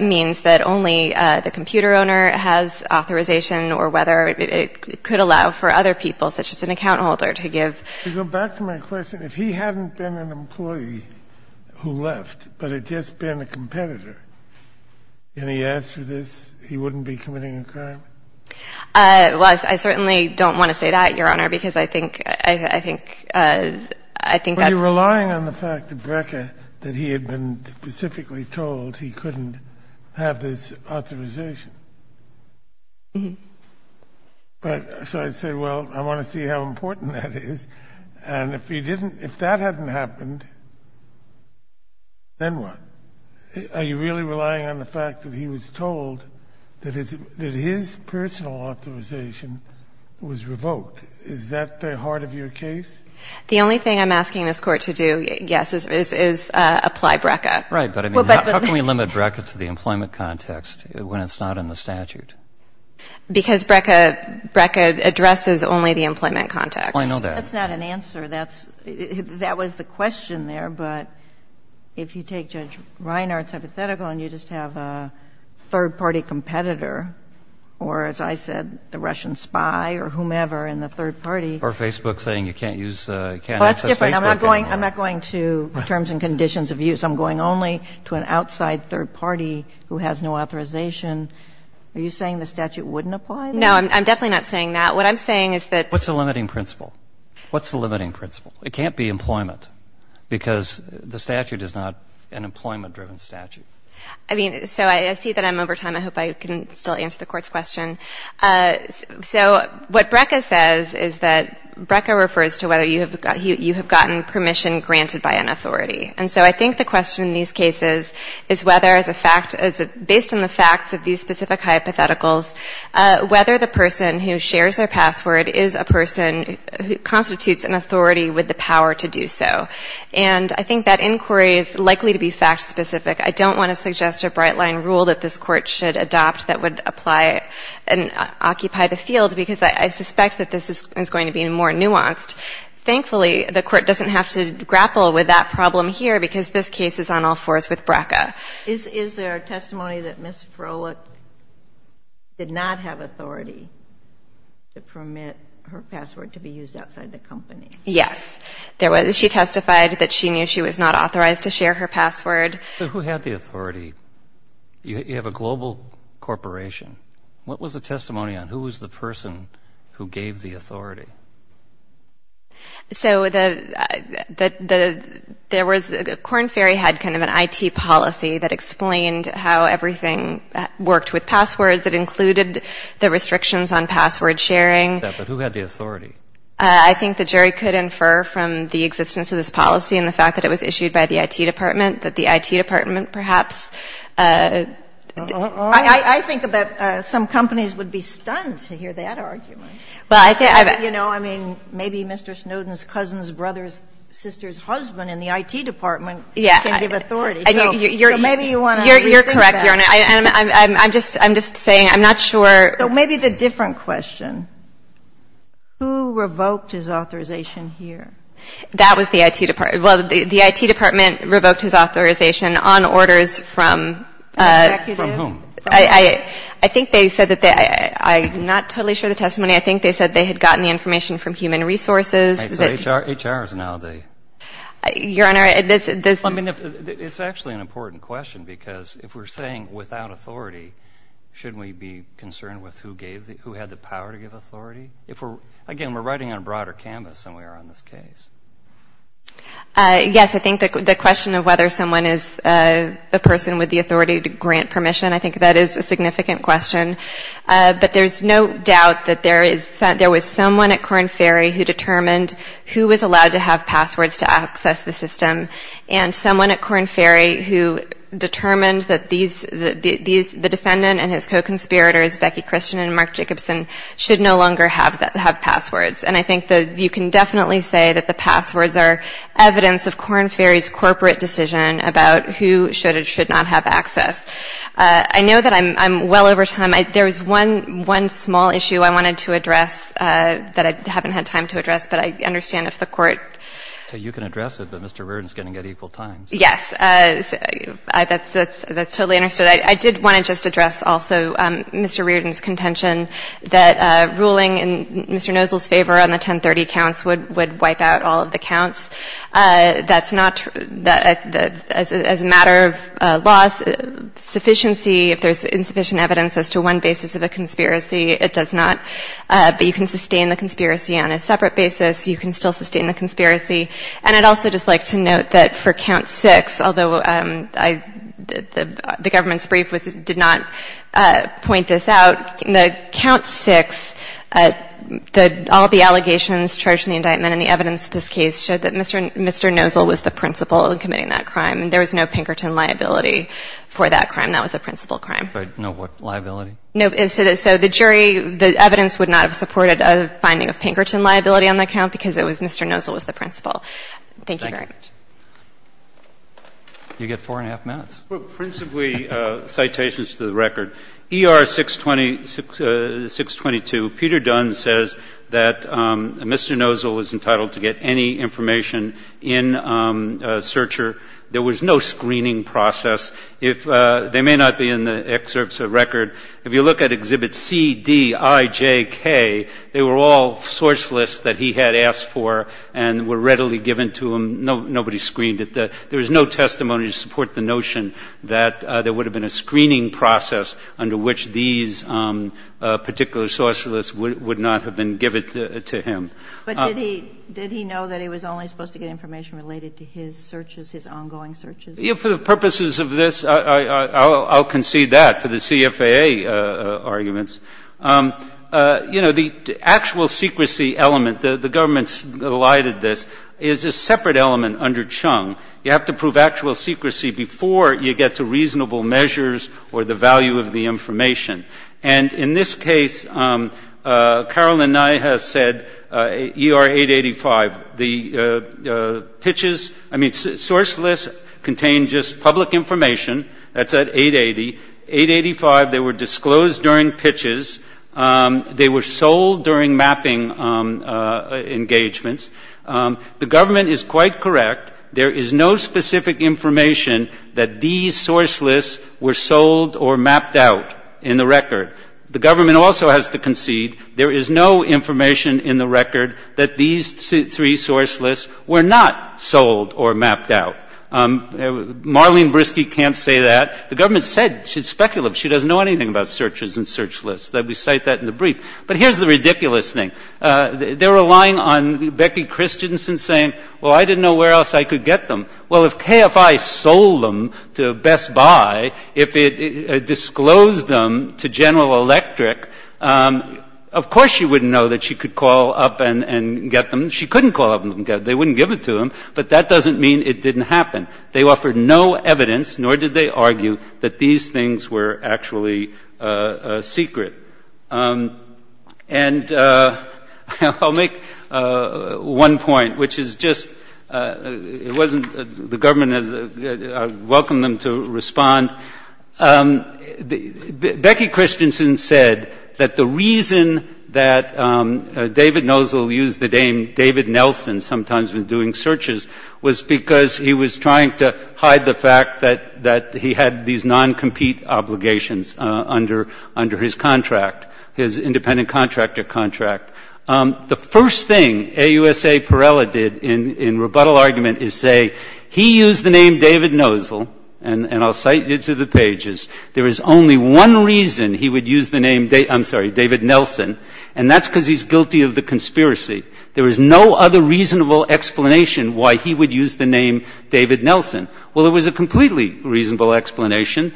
means that only the computer owner has authorization or whether it could allow for other people, such as an account holder, to give... To go back to my question, if he hadn't been an employee who left, but had just been a competitor, can he ask for this? He wouldn't be committing a crime? Well, I certainly don't want to say that, Your Honor, because I think that... But you're relying on the fact of BRCA that he had been specifically told he couldn't have this authorization. Mm-hmm. But so I say, well, I want to see how important that is. And if he didn't, if that hadn't happened, then what? Are you really relying on the fact that he was told that his personal authorization was revoked? Is that the heart of your case? The only thing I'm asking this Court to do, yes, is apply BRCA. Right, but I mean, how can we limit BRCA to the employment context when it's not in the statute? Because BRCA addresses only the employment context. Well, I know that. That's not an answer. That was the question there. But if you take Judge Reiner, it's hypothetical, and you just have a third-party competitor, or, as I said, the Russian spy or whomever in the third party. Or Facebook saying you can't access Facebook anymore. Well, that's different. I'm not going to terms and conditions of use. I'm going only to an outside third party who has no authorization. Are you saying the statute wouldn't apply there? No, I'm definitely not saying that. What I'm saying is that. What's the limiting principle? What's the limiting principle? It can't be employment, because the statute is not an employment-driven statute. I mean, so I see that I'm over time. I hope I can still answer the Court's question. So what BRCA says is that BRCA refers to whether you have gotten permission granted by an authority. And so I think the question in these cases is whether as a fact, based on the facts of these specific hypotheticals, whether the person who shares their password is a person who constitutes an authority with the power to do so. And I think that inquiry is likely to be fact-specific. I don't want to suggest a bright-line rule that this Court should adopt that would apply and occupy the field, because I suspect that this is going to be more nuanced. Thankfully, the Court doesn't have to grapple with that problem here, because this case is on all fours with BRCA. Is there a testimony that Ms. Froelich did not have authority to permit her password to be used outside the company? Yes. She testified that she knew she was not authorized to share her password. Who had the authority? You have a global corporation. What was the testimony on who was the person who gave the authority? So there was the Corn Ferry had kind of an IT policy that explained how everything worked with passwords. It included the restrictions on password sharing. But who had the authority? I think the jury could infer from the existence of this policy and the fact that it was issued by the IT department that the IT department perhaps I think that some companies would be stunned to hear that argument. You know, I mean, maybe Mr. Snowden's cousin's brother's sister's husband in the IT department can give authority. So maybe you want to rethink that. You're correct, Your Honor. I'm just saying, I'm not sure. So maybe the different question, who revoked his authorization here? That was the IT department. Well, the IT department revoked his authorization on orders from From whom? I think they said that they, I'm not totally sure of the testimony. I think they said they had gotten the information from human resources. So HR is now the Your Honor, It's actually an important question because if we're saying without authority, shouldn't we be concerned with who had the power to give authority? Again, we're writing on a broader canvas than we are on this case. Yes, I think the question of whether someone is the person with the authority to grant permission, I think that is a significant question. But there's no doubt that there was someone at Corn Ferry who determined who was allowed to have passwords to access the system, and someone at Corn Ferry who determined that the defendant and his co-conspirators, Becky Christian and Mark Jacobson, should no longer have passwords. And I think that you can definitely say that the passwords are evidence of Corn Ferry's corporate decision about who should or should not have access. I know that I'm well over time. There was one small issue I wanted to address that I haven't had time to address, but I understand if the Court You can address it, but Mr. Reardon is going to get equal time. Yes. That's totally understood. I did want to just address also Mr. Reardon's contention that ruling in Mr. Nosel's favor on the 1030 counts would wipe out all of the counts. That's not true. As a matter of law, sufficiency, if there's insufficient evidence as to one basis of a conspiracy, it does not. But you can sustain the conspiracy on a separate basis. You can still sustain the conspiracy. And I'd also just like to note that for Count 6, although the government's brief did not point this out, Count 6, all the allegations charged in the indictment and the evidence of this case showed that Mr. Nosel was the principal in committing that crime. There was no Pinkerton liability for that crime. That was a principal crime. No liability? No. So the jury, the evidence would not have supported a finding of Pinkerton liability on that count because it was Mr. Nosel was the principal. Thank you very much. You get four and a half minutes. Well, principally, citations to the record. ER 622, Peter Dunn says that Mr. Nosel was entitled to get any information in searcher. There was no screening process. They may not be in the excerpts of the record. If you look at Exhibit C, D, I, J, K, they were all source lists that he had asked for and were readily given to him. Nobody screened it. There was no testimony to support the notion that there would have been a screening process under which these particular source lists would not have been given to him. But did he know that he was only supposed to get information related to his searches, his ongoing searches? For the purposes of this, I'll concede that for the CFAA arguments. You know, the actual secrecy element, the government's lighted this, is a separate element under Chung. You have to prove actual secrecy before you get to reasonable measures or the value of the information. And in this case, Carolyn Nye has said ER 885, the pitches, I mean, source lists contain just public information. That's at 880. 885, they were disclosed during pitches. They were sold during mapping engagements. The government is quite correct. There is no specific information that these source lists were sold or mapped out in the record. The government also has to concede there is no information in the record that these three source lists were not sold or mapped out. Marlene Brisky can't say that. The government said she's speculative. She doesn't know anything about searches and search lists. We cite that in the brief. But here's the ridiculous thing. They're relying on Becky Christensen saying, well, I didn't know where else I could get them. Well, if KFI sold them to Best Buy, if it disclosed them to General Electric, of course she wouldn't know that she could call up and get them. She couldn't call up and get them. They wouldn't give it to them. But that doesn't mean it didn't happen. They offered no evidence, nor did they argue, that these things were actually secret. And I'll make one point, which is just it wasn't the government, I welcome them to respond. Becky Christensen said that the reason that David Nozel used the name David Nelson sometimes when doing searches was because he was trying to hide the fact that he had these non-compete obligations under his contract, his independent contractor contract. The first thing AUSA Perella did in rebuttal argument is say, he used the name David Nozel, and I'll cite you to the pages, there is only one reason he would use the name, I'm sorry, David Nelson, and that's because he's guilty of the conspiracy. There is no other reasonable explanation why he would use the name David Nelson. Well, there was a completely reasonable explanation.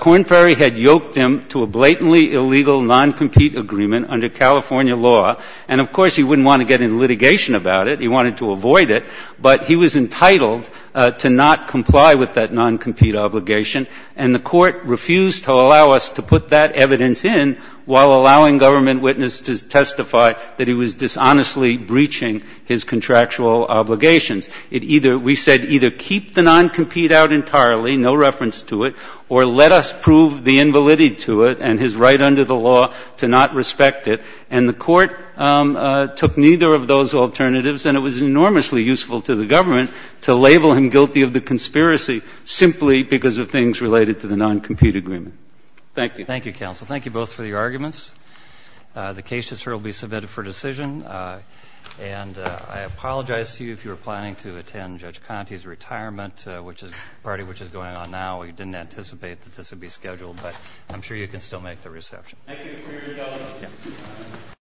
Corn Ferry had yoked him to a blatantly illegal non-compete agreement under California law, and of course he wouldn't want to get into litigation about it. He wanted to avoid it, but he was entitled to not comply with that non-compete obligation, and the Court refused to allow us to put that evidence in while allowing a non-government witness to testify that he was dishonestly breaching his contractual obligations. It either we said either keep the non-compete out entirely, no reference to it, or let us prove the invalidity to it and his right under the law to not respect it, and the Court took neither of those alternatives, and it was enormously useful to the government to label him guilty of the conspiracy simply because of things related to the non-compete agreement. Thank you. Thank you. Thank you, counsel. Thank you both for your arguments. The case will be submitted for decision, and I apologize to you if you were planning to attend Judge Conte's retirement party, which is going on now. We didn't anticipate that this would be scheduled, but I'm sure you can still make the reception. Thank you for your indulgence.